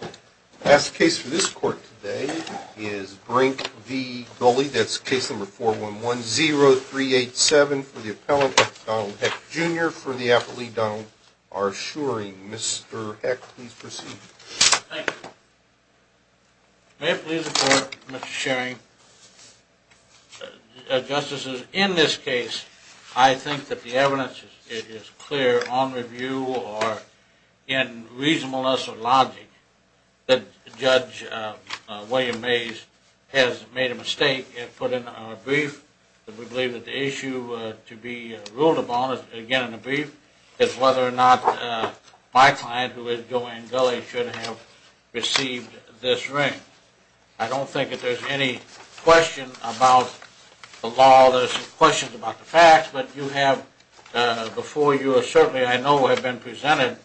The last case for this court today is Brink v. Gully. That's case number 4110387 for the appellant, Donald Heck Jr. for the appellee, Donald R. Shearing. Mr. Heck, please proceed. Thank you. May it please the court, Mr. Shearing. Justices, in this case, I think that the evidence is clear on review or in reasonableness or logic that Judge William Mays has made a mistake and put in a brief. We believe that the issue to be ruled upon, again in a brief, is whether or not my client, who is Joe Ann Gully, should have received this ring. I don't think that there's any question about the law. There's some questions about the facts, but you have, before you, certainly I know have been presented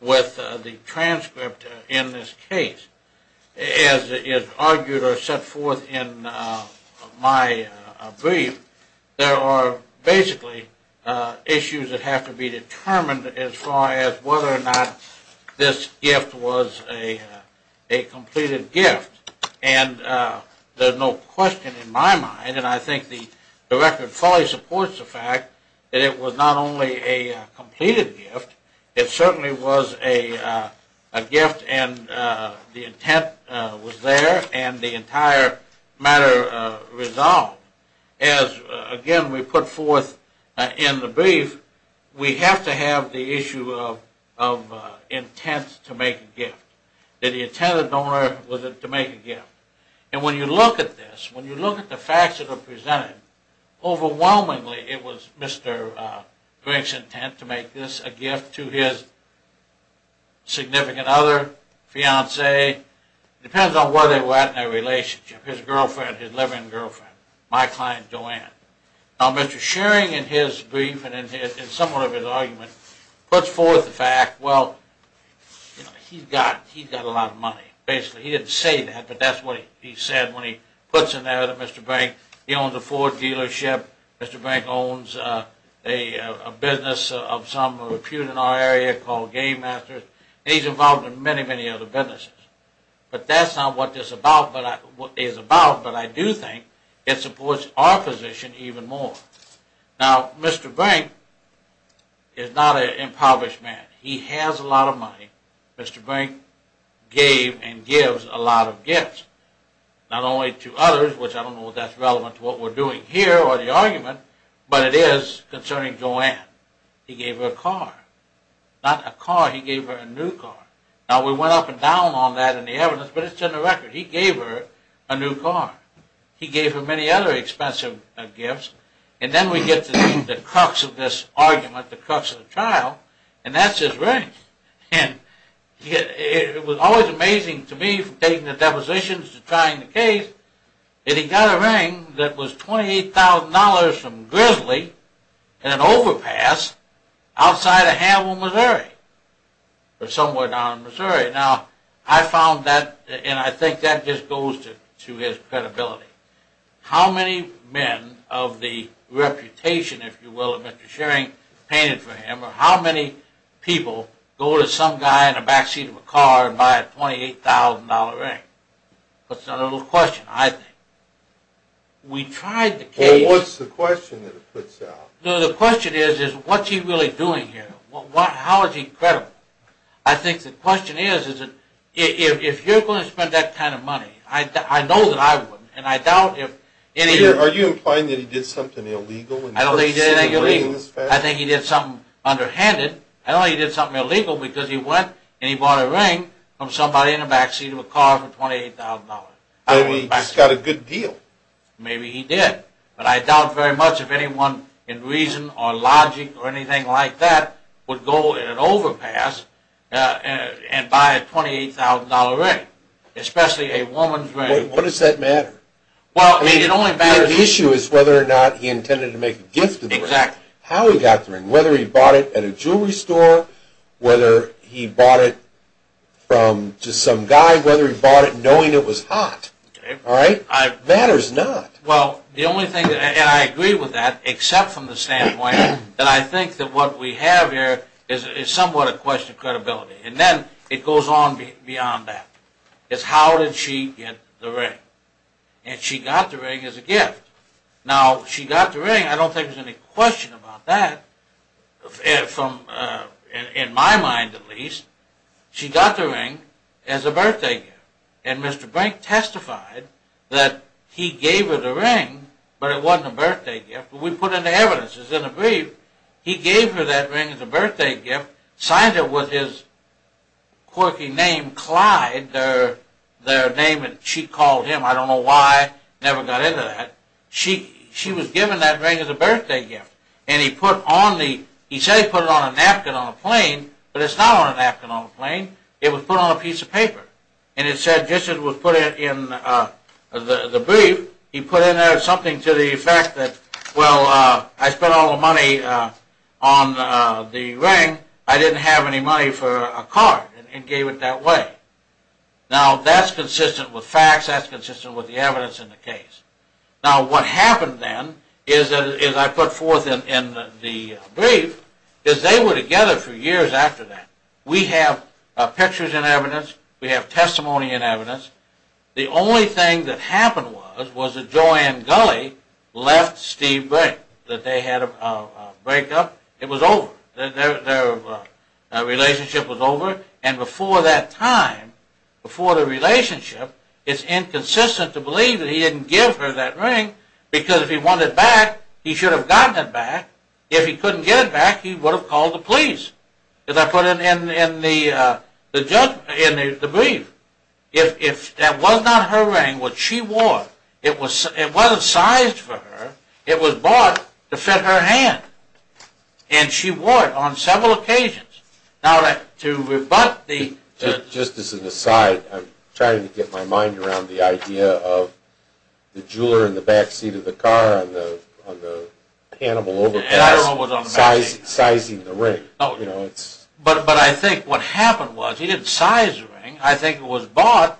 with the transcript in this case. As is argued or set forth in my brief, there are basically issues that have to be determined as far as whether or not this gift was a completed gift. And there's no question in my mind, and I think the record fully supports the fact, that it was not only a completed gift, it certainly was a gift and the intent was there and the entire matter resolved. As, again, we put forth in the brief, we have to have the issue of intent to make a gift. That the intent of the donor was to make a gift. And when you look at this, when you look at the facts that are presented, overwhelmingly it was Mr. Frank's intent to make this a gift to his significant other, fiancee, depends on where they were at in their relationship, his girlfriend, his living girlfriend. My client, Joanne. Now, Mr. Shearing, in his brief and somewhat of his argument, puts forth the fact, well, he's got a lot of money, basically. He didn't say that, but that's what he said when he puts in there that Mr. Frank, he owns a Ford dealership, Mr. Frank owns a business of some repute in our area called Game Masters, and he's involved in many, many other businesses. But that's not what this is about, but I do think it supports our position even more. Now, Mr. Frank is not an impoverished man. He has a lot of money. Mr. Frank gave and gives a lot of gifts. Not only to others, which I don't know if that's relevant to what we're doing here or the argument, but it is concerning Joanne. He gave her a car. Not a car, he gave her a new car. Now, we went up and down on that in the evidence, but it's in the record. He gave her a new car. He gave her many other expensive gifts, and then we get to the crux of this argument, the crux of the trial, and that's his ring. And it was always amazing to me from taking the depositions to trying the case that he got a ring that was $28,000 from Grizzly in an overpass outside of Hamel, Missouri, or somewhere down in Missouri. Now, I found that, and I think that just goes to his credibility. How many men of the reputation, if you will, of Mr. Schering painted for him, or how many people go to some guy in the backseat of a car and buy a $28,000 ring? That's a little question, I think. We tried the case. No, the question is, what's he really doing here? How is he credible? I think the question is, if you're going to spend that kind of money, I know that I wouldn't, and I doubt if any of you... Are you implying that he did something illegal? I don't think he did anything illegal. I think he did something underhanded. I don't think he did something illegal because he went and he bought a ring from somebody in the backseat of a car for $28,000. Maybe he just got a good deal. Maybe he did, but I doubt very much if anyone in reason or logic or anything like that would go in an overpass and buy a $28,000 ring, especially a woman's ring. What does that matter? Well, I mean, it only matters... The issue is whether or not he intended to make a gift of the ring. Exactly. How he got the ring, whether he bought it at a jewelry store, whether he bought it from just some guy, whether he bought it knowing it was hot. Okay. Matters not. Well, the only thing, and I agree with that, except from the standpoint that I think that what we have here is somewhat a question of credibility, and then it goes on beyond that. It's how did she get the ring? And she got the ring as a gift. Now, she got the ring, I don't think there's any question about that, in my mind at least. She got the ring as a birthday gift, and Mr. Brink testified that he gave her the ring, but it wasn't a birthday gift. We put in the evidence, it was in the brief. He gave her that ring as a birthday gift, signed it with his quirky name Clyde, their name that she called him, I don't know why, never got into that. She was given that ring as a birthday gift, and he put on the... He said he put it on a napkin on a plane, but it's not on a napkin on a plane, it was put on a piece of paper. And it said, just as it was put in the brief, he put in there something to the effect that, well, I spent all the money on the ring, I didn't have any money for a card, and gave it that way. Now, that's consistent with facts, that's consistent with the evidence in the case. Now, what happened then, is I put forth in the brief, is they were together for years after that. We have pictures and evidence, we have testimony and evidence. The only thing that happened was, was that Joanne Gulley left Steve Brink, that they had a breakup, it was over. Their relationship was over, and before that time, before the relationship, it's inconsistent to believe that he didn't give her that ring, because if he wanted it back, he should have gotten it back. If he couldn't get it back, he would have called the police, as I put it in the brief. If that was not her ring, which she wore, it wasn't sized for her, it was bought to fit her hand, and she wore it on several occasions. Now, to rebut the... Just as an aside, I'm trying to get my mind around the idea of the jeweler in the backseat of the car on the Hannibal Overpass sizing the ring. But I think what happened was, he didn't size the ring, I think it was bought,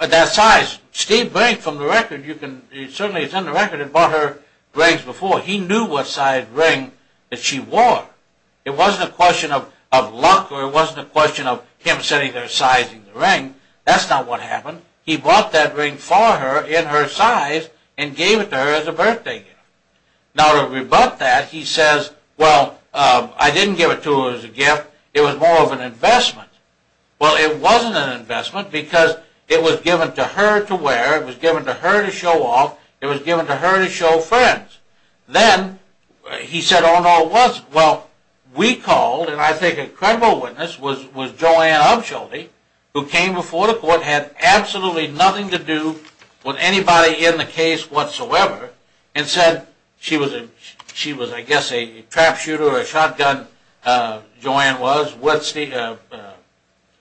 that size, Steve Brink, from the record, you can, certainly it's in the record, had bought her rings before. He knew what size ring that she wore. It wasn't a question of luck, or it wasn't a question of him sitting there sizing the ring, that's not what happened. He bought that ring for her, in her size, and gave it to her as a birthday gift. Now, to rebut that, he says, well, I didn't give it to her as a gift, it was more of an investment. Well, it wasn't an investment, because it was given to her to wear, it was given to her to show off, it was given to her to show friends. Then, he said, oh no, it wasn't. Well, we called, and I think a credible witness was Joanne Upshieldy, who came before the court, had absolutely nothing to do with anybody in the case whatsoever, and said she was, I guess, a trap shooter or a shotgun, Joanne was, a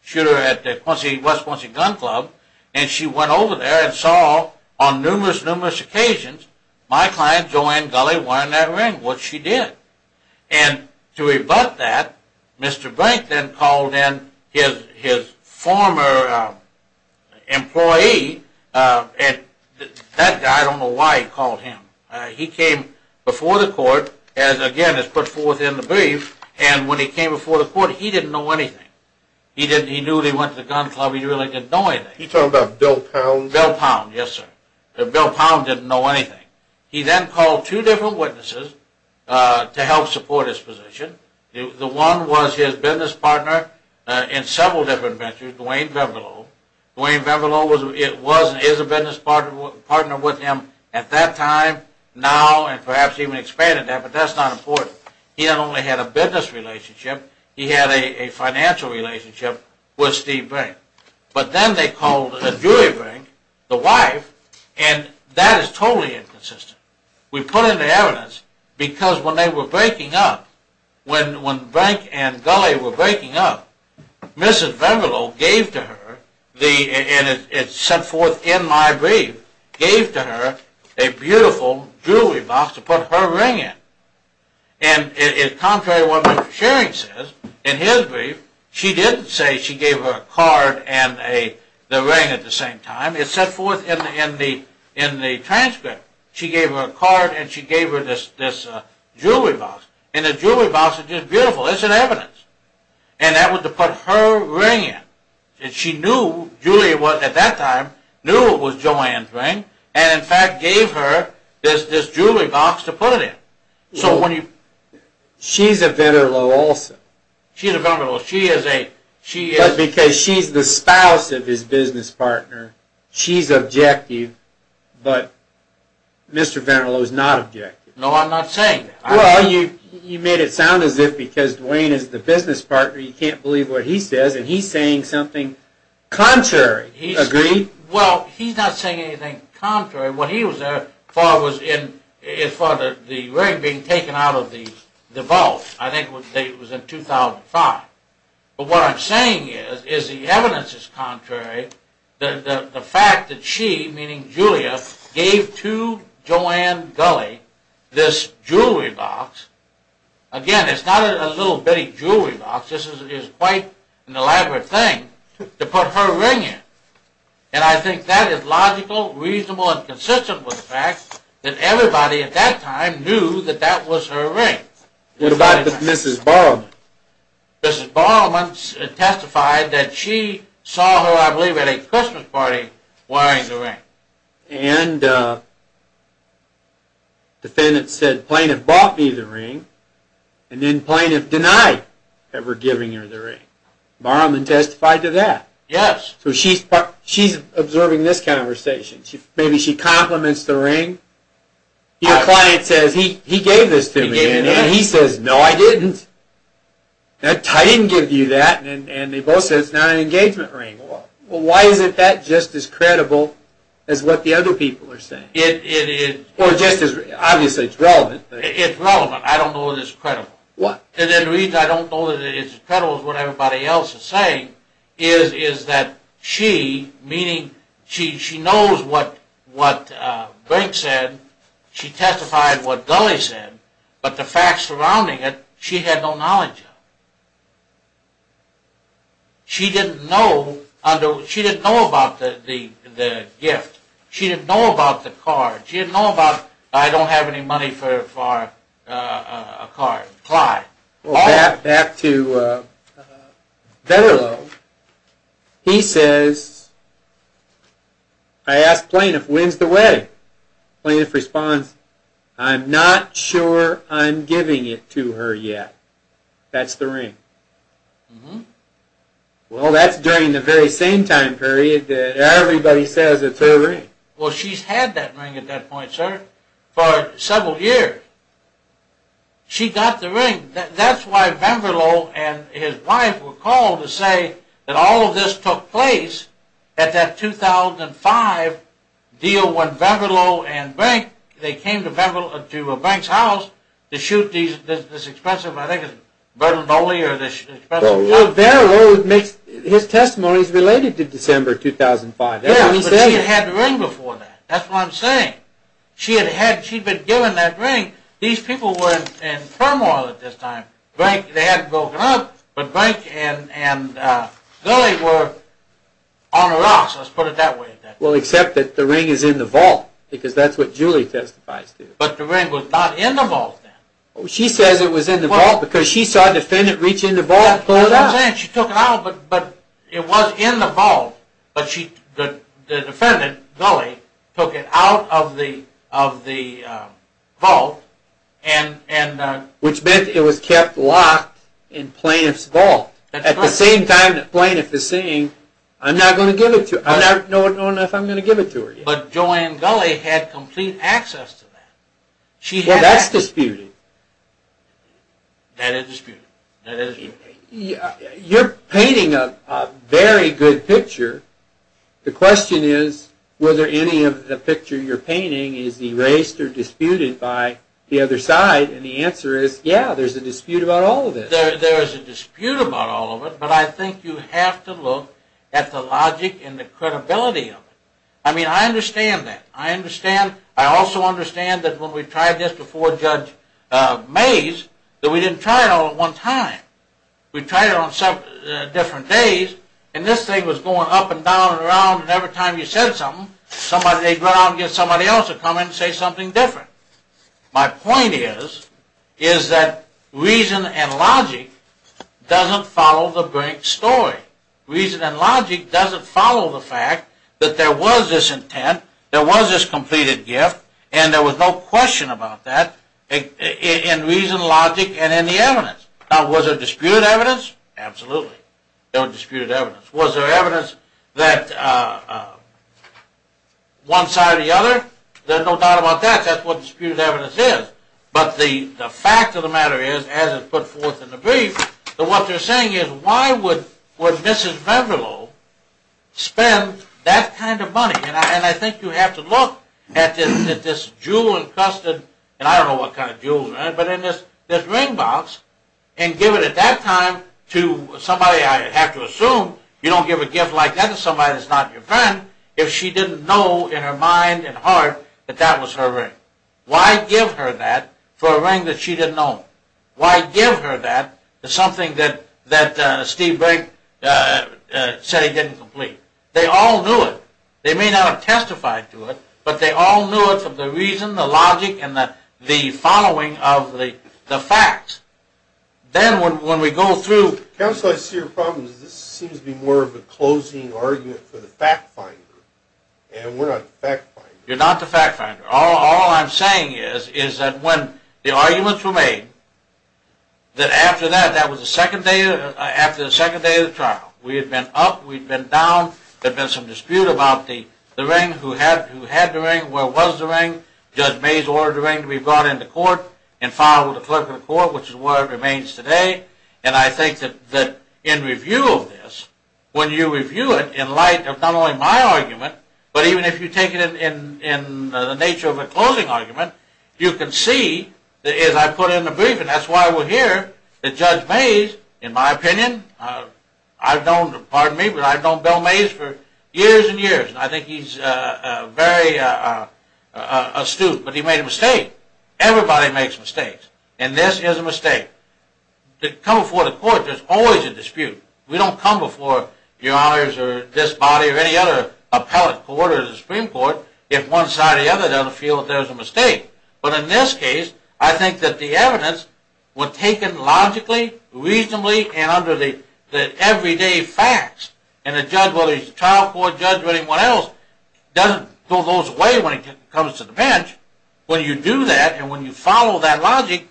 shooter at West Quincy Gun Club, and she went over there and saw, on numerous, numerous occasions, my client, Joanne Gulley, wearing that ring, which she did. And to rebut that, Mr. Brink then called in his former employee, and that guy, I don't know why he called him. He came before the court, as again is put forth in the brief, and when he came before the court, he didn't know anything. He knew he went to the gun club, he really didn't know anything. You're talking about Bill Pound? Bill Pound, yes sir. Bill Pound didn't know anything. He then called two different witnesses to help support his position. The one was his business partner in several different ventures, Dwayne Beverlo. Dwayne Beverlo was, is a business partner with him at that time, now, and perhaps even expanded that, but that's not important. He not only had a business relationship, he had a financial relationship with Steve Brink. But then they called in Julie Brink, the wife, and that is totally inconsistent. We put in the evidence, because when they were breaking up, when Brink and Gulley were breaking up, Mrs. Beverlo gave to her, and it's sent forth in my brief, gave to her a beautiful jewelry box to put her ring in. And contrary to what Mr. Shering says, in his brief, she didn't say she gave her a card and the ring at the same time. It's sent forth in the transcript, she gave her a card and she gave her this jewelry box. And the jewelry box is just beautiful, it's an evidence. And that was to put her ring in. And she knew, Julie at that time, knew it was Joanne's ring, and in fact gave her this jewelry box to put it in. So when you... She's a Beverlo also. She's a Beverlo, she is a... But because she's the spouse of his business partner, she's objective, but Mr. Beverlo is not objective. No, I'm not saying that. Well, you made it sound as if because Duane is the business partner, you can't believe what he says, and he's saying something contrary. Agreed? Well, he's not saying anything contrary. What he was there for was for the ring being taken out of the vault, I think it was in 2005. But what I'm saying is, is the evidence is contrary, the fact that she, meaning Julia, gave to Joanne Gulley this jewelry box. Again, it's not a little bitty jewelry box, this is quite an elaborate thing, to put her ring in. And I think that is logical, reasonable, and consistent with the fact that everybody at that time knew that that was her ring. What about Mrs. Borowman? Mrs. Borowman testified that she saw her, I believe at a Christmas party, wearing the ring. And the defendant said plaintiff bought me the ring, and then plaintiff denied ever giving her the ring. Borowman testified to that. Yes. So she's observing this conversation. Maybe she compliments the ring. Your client says, he gave this to me, and he says, no I didn't. I didn't give you that, and they both say it's not an engagement ring. Well, why is that just as credible as what the other people are saying? It is. Or just as, obviously it's relevant. It's relevant, I don't know that it's credible. What? And the reason I don't know that it's credible is what everybody else is saying, is that she, meaning she knows what Brink said. She testified what Dulley said, but the facts surrounding it, she had no knowledge of. She didn't know about the gift. She didn't know about the card. She didn't know about, I don't have any money for a card. Back to Vedderlo. He says, I asked plaintiff, when's the wedding? Plaintiff responds, I'm not sure I'm giving it to her yet. That's the ring. Well, that's during the very same time period that everybody says it's her ring. Well, she's had that ring at that point, sir, for several years. She got the ring. That's why Vedderlo and his wife were called to say that all of this took place at that 2005 deal when Vedderlo and Brink, they came to Brink's house to shoot this expensive, I think it was Vedderlo Dulley. Vedderlo makes, his testimony is related to December 2005. Yeah, but she had the ring before that. That's what I'm saying. She had been given that ring. These people were in turmoil at this time. Brink, they hadn't broken up, but Brink and Dulley were on the rocks, let's put it that way. Well, except that the ring is in the vault, because that's what Julie testifies to. But the ring was not in the vault then. She says it was in the vault because she saw a defendant reach in the vault and pull it out. That's what I'm saying, she took it out, but it was in the vault, but the defendant, Dulley, took it out of the vault. Which meant it was kept locked in Plaintiff's vault. At the same time, the plaintiff is saying, I'm not going to give it to her. I don't know if I'm going to give it to her. But Joanne Dulley had complete access to that. Well, that's disputed. That is disputed. You're painting a very good picture. The question is, whether any of the picture you're painting is erased or disputed by the other side. And the answer is, yeah, there's a dispute about all of it. There is a dispute about all of it, but I think you have to look at the logic and the credibility of it. I mean, I understand that. I also understand that when we tried this before Judge Mays, that we didn't try it all at one time. We tried it on several different days, and this thing was going up and down and around, and every time you said something, they'd run out and get somebody else to come in and say something different. My point is, is that reason and logic doesn't follow the Brink story. Reason and logic doesn't follow the fact that there was this intent, there was this completed gift, and there was no question about that in reason, logic, and in the evidence. Now, was there disputed evidence? Absolutely. There was disputed evidence. Was there evidence that one side or the other? There's no doubt about that. That's what disputed evidence is. But the fact of the matter is, as it's put forth in the brief, that what they're saying is, why would Mrs. Beverlow spend that kind of money? And I think you have to look at this jewel-encrusted, and I don't know what kind of jewel, but in this ring box, and give it at that time to somebody, I have to assume, you don't give a gift like that to somebody that's not your friend, if she didn't know in her mind and heart that that was her ring. Why give her that for a ring that she didn't know? Why give her that for something that Steve Brink said he didn't complete? They all knew it. They may not have testified to it, but they all knew it from the reason, the logic, and the following of the facts. Then when we go through... Counsel, I see your problem is this seems to be more of a closing argument for the fact finder, and we're not the fact finder. You're not the fact finder. All I'm saying is that when the arguments were made, that after that, that was the second day of the trial. We had been up. We'd been down. There'd been some dispute about the ring, who had the ring, where was the ring. Judge Mays ordered the ring to be brought into court and filed with the clerk of the court, which is where it remains today. And I think that in review of this, when you review it in light of not only my argument, but even if you take it in the nature of a closing argument, you can see, as I put it in the brief, and that's why we're here, that Judge Mays, in my opinion, I've known Bill Mays for years and years, and I think he's very astute, but he made a mistake. Everybody makes mistakes, and this is a mistake. To come before the court, there's always a dispute. We don't come before your honors or this body or any other appellate court or the Supreme Court if one side or the other doesn't feel that there's a mistake. But in this case, I think that the evidence was taken logically, reasonably, and under the everyday facts, and a trial court judge or anyone else doesn't throw those away when it comes to the bench. When you do that and when you follow that logic,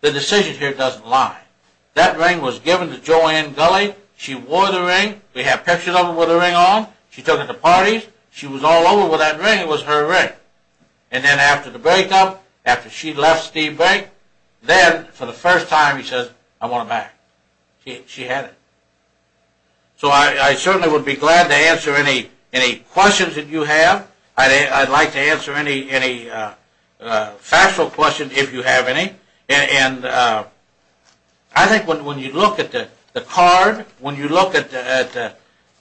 the decision here doesn't lie. That ring was given to Joanne Gulley. She wore the ring. We have pictures of her with the ring on. She took it to parties. She was all over with that ring. It was her ring. And then after the breakup, after she left Steve Bank, then for the first time he says, I want it back. She had it. So I certainly would be glad to answer any questions that you have. I'd like to answer any factual questions, if you have any. And I think when you look at the card, when you look at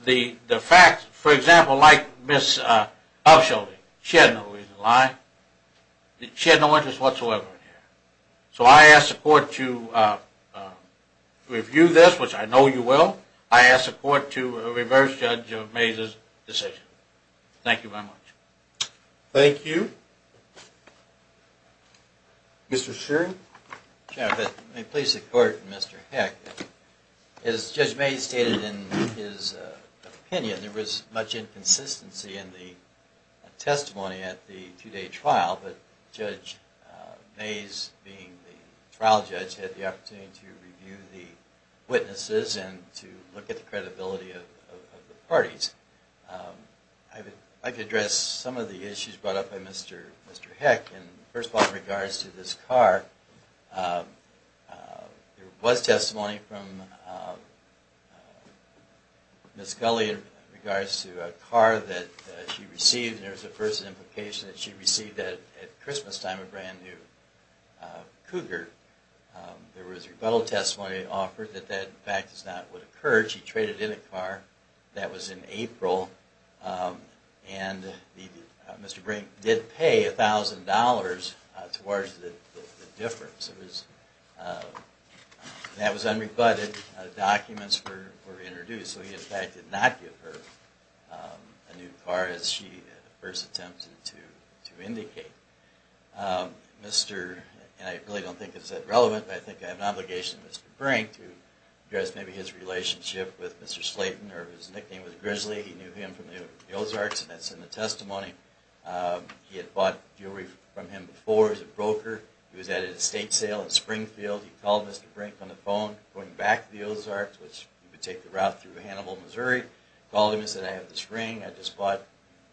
the facts, for example, like Ms. Upshielding, she had no reason to lie. She had no interest whatsoever in here. So I ask the court to review this, which I know you will. I ask the court to reverse Judge Mazur's decision. Thank you very much. Thank you. Thank you. Mr. Shearing? May it please the court and Mr. Heck, as Judge May stated in his opinion, there was much inconsistency in the testimony at the two-day trial, but Judge Mays, being the trial judge, had the opportunity to review the witnesses and to look at the credibility of the parties. I'd like to address some of the issues brought up by Mr. Heck. And first of all, in regards to this car, there was testimony from Ms. Gulley in regards to a car that she received. And there was a first implication that she received at Christmas time a brand-new Cougar. There was rebuttal testimony offered that that, in fact, is not what occurred. She traded in a car that was in April. And Mr. Brink did pay $1,000 towards the difference. That was unrebutted. Documents were introduced. So he, in fact, did not give her a new car as she first attempted to indicate. And I really don't think it's that relevant, but I think I have an obligation to Mr. Brink to address maybe his relationship with Mr. Slayton or his nickname was Grizzly. He knew him from the Ozarks, and that's in the testimony. He had bought jewelry from him before as a broker. He was at an estate sale in Springfield. He called Mr. Brink on the phone going back to the Ozarks, which would take the route through Hannibal, Missouri. Called him and said, I have this ring. I just thought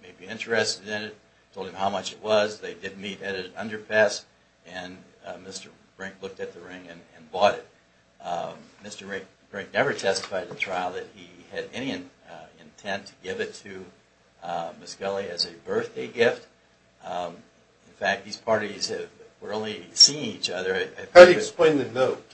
you may be interested in it. Told him how much it was. They did meet at an underpass. And Mr. Brink looked at the ring and bought it. Mr. Brink never testified in trial that he had any intent to give it to Miss Gulley as a birthday gift. In fact, these parties were only seeing each other. How do you explain the note?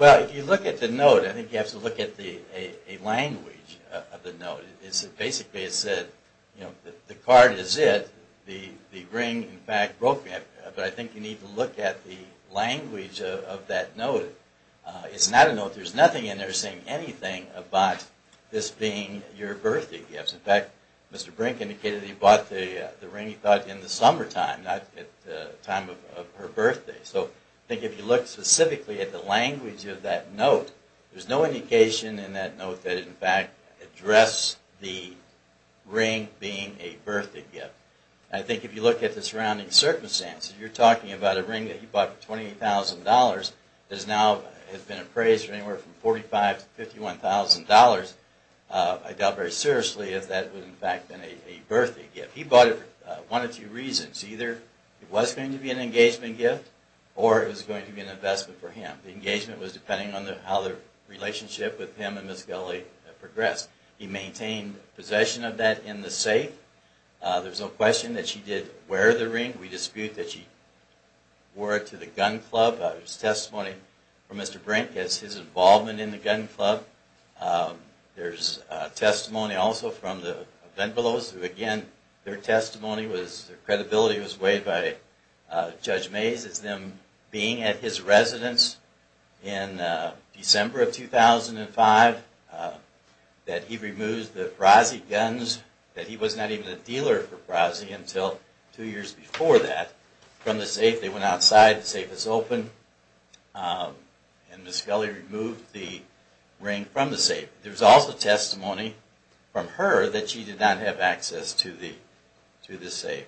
Well, if you look at the note, I think you have to look at a language of the note. It basically said, you know, the card is it. The ring, in fact, broke me. But I think you need to look at the language of that note. It's not a note. There's nothing in there saying anything about this being your birthday gift. In fact, Mr. Brink indicated he bought the ring, he thought, in the summertime, not at the time of her birthday. So I think if you look specifically at the language of that note, there's no indication in that note that it, in fact, addressed the ring being a birthday gift. I think if you look at the surrounding circumstances, you're talking about a ring that he bought for $28,000 that has now been appraised for anywhere from $45,000 to $51,000. I doubt very seriously if that would, in fact, have been a birthday gift. He bought it for one of two reasons. Either it was going to be an engagement gift or it was going to be an investment for him. The engagement was depending on how the relationship with him and Miss Gulley progressed. He maintained possession of that in the safe. There's no question that she did wear the ring. We dispute that she wore it to the gun club. There's testimony from Mr. Brink as his involvement in the gun club. There's testimony also from the Venvolos, who, again, their testimony was, their credibility was weighed by Judge Mays, as them being at his residence in December of 2005, that he removed the Brasi guns, that he was not even a dealer for Brasi until two years before that, from the safe. They went outside, the safe was open, and Miss Gulley removed the ring from the safe. There's also testimony from her that she did not have access to the safe.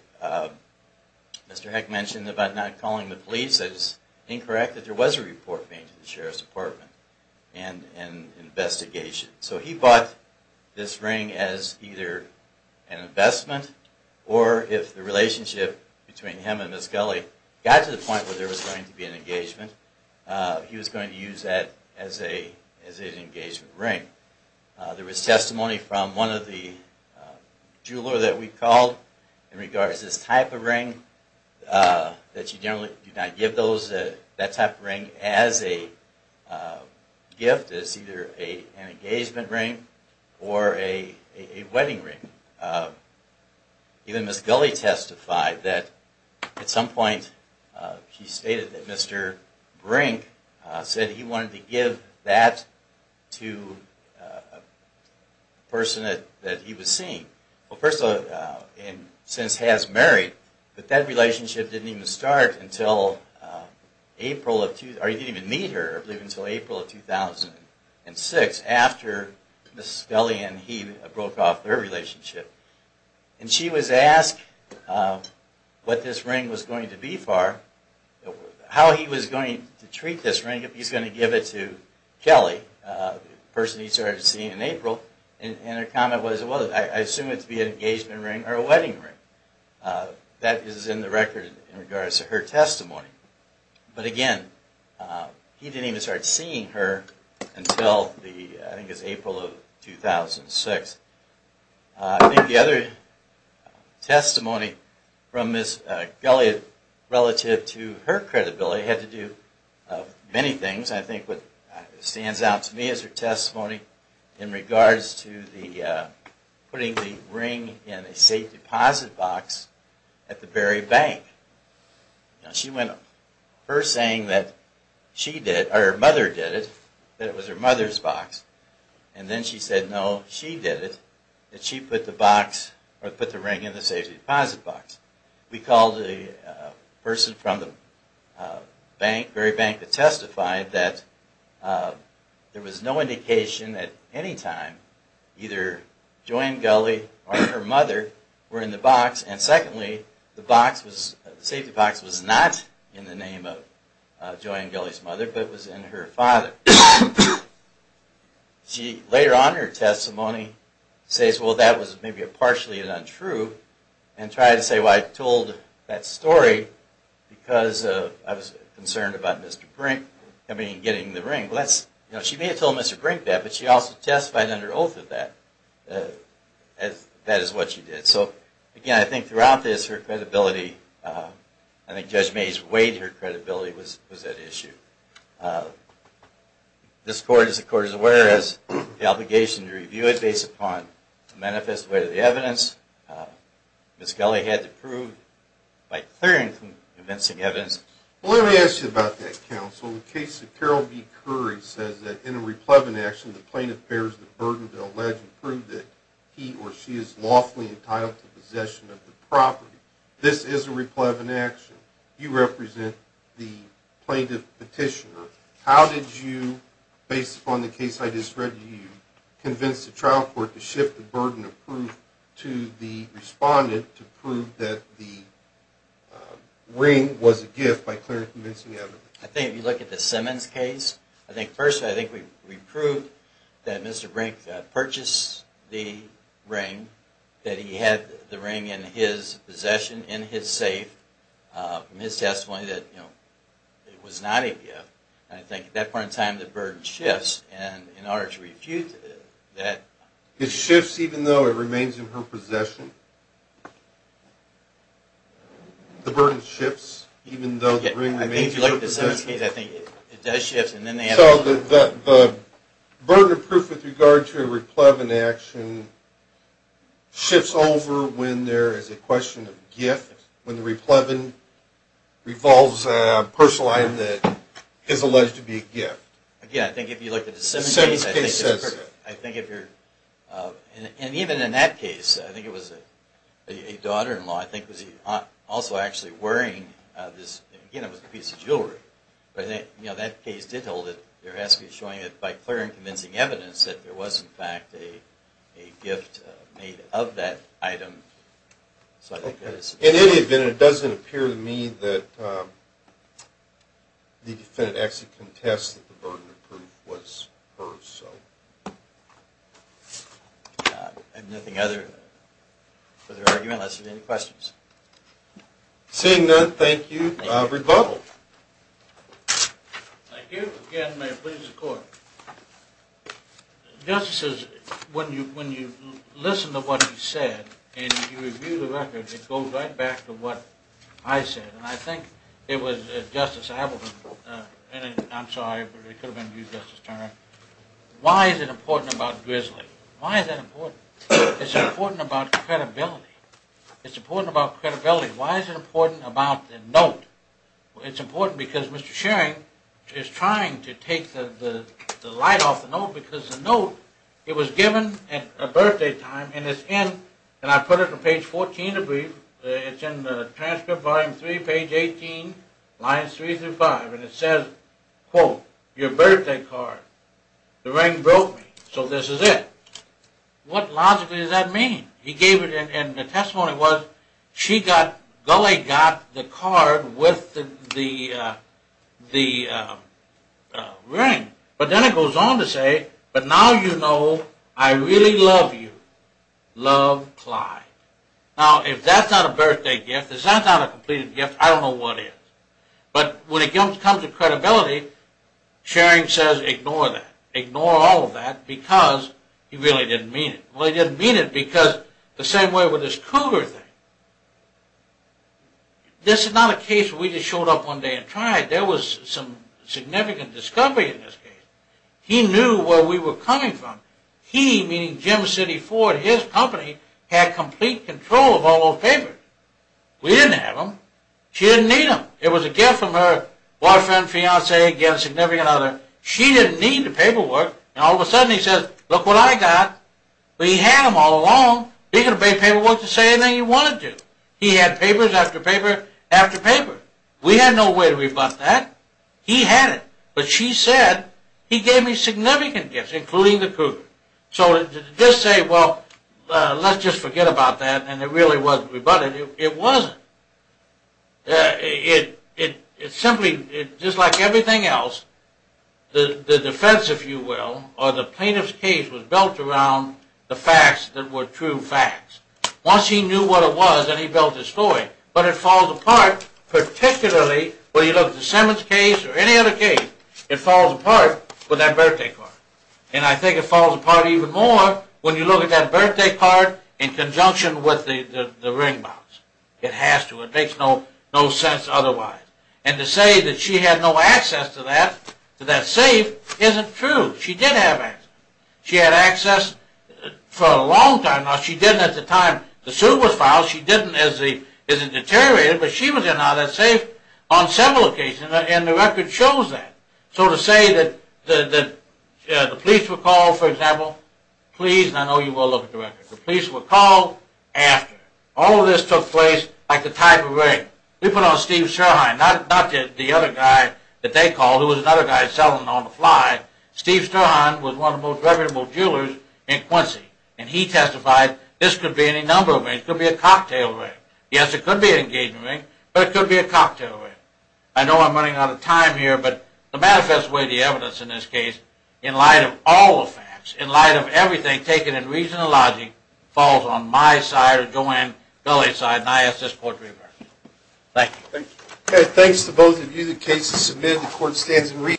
Mr. Heck mentioned about not calling the police. I just incorrect that there was a report made to the Sheriff's Department and an investigation. So he bought this ring as either an investment or if the relationship between him and Miss Gulley got to the point where there was going to be an engagement, he was going to use that as an engagement ring. There was testimony from one of the jewelers that we called in regards to this type of ring, that she generally did not give that type of ring as a gift, as either an engagement ring or a wedding ring. Even Miss Gulley testified that at some point she stated that Mr. Brink said he wanted to give that to a person that he was seeing. Well, first of all, since he has married, but that relationship didn't even start until April of 2006 after Miss Gulley and he broke off their relationship. And she was asked what this ring was going to be for, how he was going to treat this ring if he was going to give it to Kelly, the person he started seeing in April, and her comment was, well, I assume it to be an engagement ring or a wedding ring. That is in the record in regards to her testimony. But again, he didn't even start seeing her until I think it was April of 2006. I think the other testimony from Miss Gulley relative to her credibility had to do with many things. I think what stands out to me is her testimony in regards to putting the ring in a safe deposit box at the Berry Bank. She went, her saying that she did, or her mother did it, that it was her mother's box. And then she said, no, she did it, that she put the box, or put the ring in the safe deposit box. We called the person from the bank, Berry Bank, to testify that there was no indication at any time either Joanne Gulley or her mother were in the box. And secondly, the box was, the safety box was not in the name of Joanne Gulley's mother, but was in her father. She, later on in her testimony, says, well, that was maybe partially untrue. And tried to say, well, I told that story because I was concerned about Mr. Brink, I mean, getting the ring. Well, that's, you know, she may have told Mr. Brink that, but she also testified under oath that that is what she did. So, again, I think throughout this, her credibility, I think Judge Mays weighed her credibility with that issue. This Court, as the Court is aware, has the obligation to review it based upon the manifest way of the evidence. Ms. Gulley had to prove by clearing convincing evidence. Well, let me ask you about that, counsel. The case of Carol B. Curry says that in a replevant action, the plaintiff bears the burden to allege and prove that he or she is lawfully entitled to possession of the property. This is a replevant action. You represent the plaintiff petitioner. How did you, based upon the case I just read to you, convince the trial court to shift the burden of proof to the respondent to prove that the ring was a gift by clearing convincing evidence? I think if you look at the Simmons case, I think first I think we proved that Mr. Brink purchased the ring, that he had the ring in his possession, in his safe, from his testimony that, you know, it was not a gift. And I think at that point in time the burden shifts, and in order to refute that... It shifts even though it remains in her possession? The burden shifts even though the ring remains in her possession? I think if you look at the Simmons case, I think it does shift, and then they have... So the burden of proof with regard to a replevant action shifts over when there is a question of gift, when the replevant involves a personal item that is alleged to be a gift? Again, I think if you look at the Simmons case... The Simmons case says so. I think if you're... And even in that case, I think it was a daughter-in-law, I think was also actually wearing this, you know, piece of jewelry. But, you know, that case did hold it. They're actually showing it by clearing convincing evidence that there was, in fact, a gift made of that item. In any event, it doesn't appear to me that the defendant actually contests that the burden of proof was hers, so... I have nothing further argument unless you have any questions. Seeing none, thank you. Rebuttal. Thank you. Again, may it please the Court. Justices, when you listen to what he said, and you review the record, it goes right back to what I said. And I think it was Justice Appleton, and I'm sorry, but it could have been you, Justice Turner. Why is it important about grizzly? Why is that important? It's important about credibility. It's important about credibility. Why is it important about the note? It's important because Mr. Schering is trying to take the light off the note because the note, it was given at a birthday time, and it's in... And I put it on page 14 of the brief. It's in the transcript, volume 3, page 18, lines 3 through 5. And it says, quote, your birthday card. The ring broke me, so this is it. What logically does that mean? He gave it, and the testimony was, she got, Gulley got the card with the ring. But then it goes on to say, but now you know I really love you. Love, Clyde. Now, if that's not a birthday gift, if that's not a completed gift, I don't know what is. But when it comes to credibility, Schering says, ignore that. Ignore all of that because he really didn't mean it. Well, he didn't mean it because the same way with this Cougar thing. This is not a case where we just showed up one day and tried. There was some significant discovery in this case. He knew where we were coming from. He, meaning Jim City Ford, his company, had complete control of all those papers. We didn't have them. She didn't need them. It was a gift from her boyfriend, fiance, significant other. She didn't need the paperwork, and all of a sudden he says, look what I got. But he had them all along. He could have paid paperwork to say anything he wanted to. He had papers after paper after paper. We had no way to rebut that. He had it. But she said, he gave me significant gifts, including the Cougar. So to just say, well, let's just forget about that, and it really wasn't rebutted, it wasn't. It simply, just like everything else, the defense, if you will, or the plaintiff's case was built around the facts that were true facts. Once he knew what it was, then he built his story. But it falls apart, particularly when you look at the Simmons case or any other case, it falls apart with that birthday card. And I think it falls apart even more when you look at that birthday card in conjunction with the ring box. It has to. It makes no sense otherwise. And to say that she had no access to that, to that safe, isn't true. She did have access. She had access for a long time. Now she didn't at the time the suit was filed. She didn't as it deteriorated. But she was in that safe on several occasions, and the record shows that. So to say that the police were called, for example, please, and I know you will look at the record, the police were called after. All of this took place like a type of ring. We put on Steve Sherhine, not the other guy that they called, who was another guy selling on the fly. Steve Sherhine was one of the most reputable jewelers in Quincy. And he testified, this could be any number of rings. It could be a cocktail ring. Yes, it could be an engagement ring, but it could be a cocktail ring. I know I'm running out of time here, but the manifest way the evidence in this case, in light of all the facts, in light of everything, taken in reason and logic, falls on my side or Joanne Kelly's side, and I ask this court to reverse it. Thank you. Okay, thanks to both of you. The case is submitted. The court stands in reason.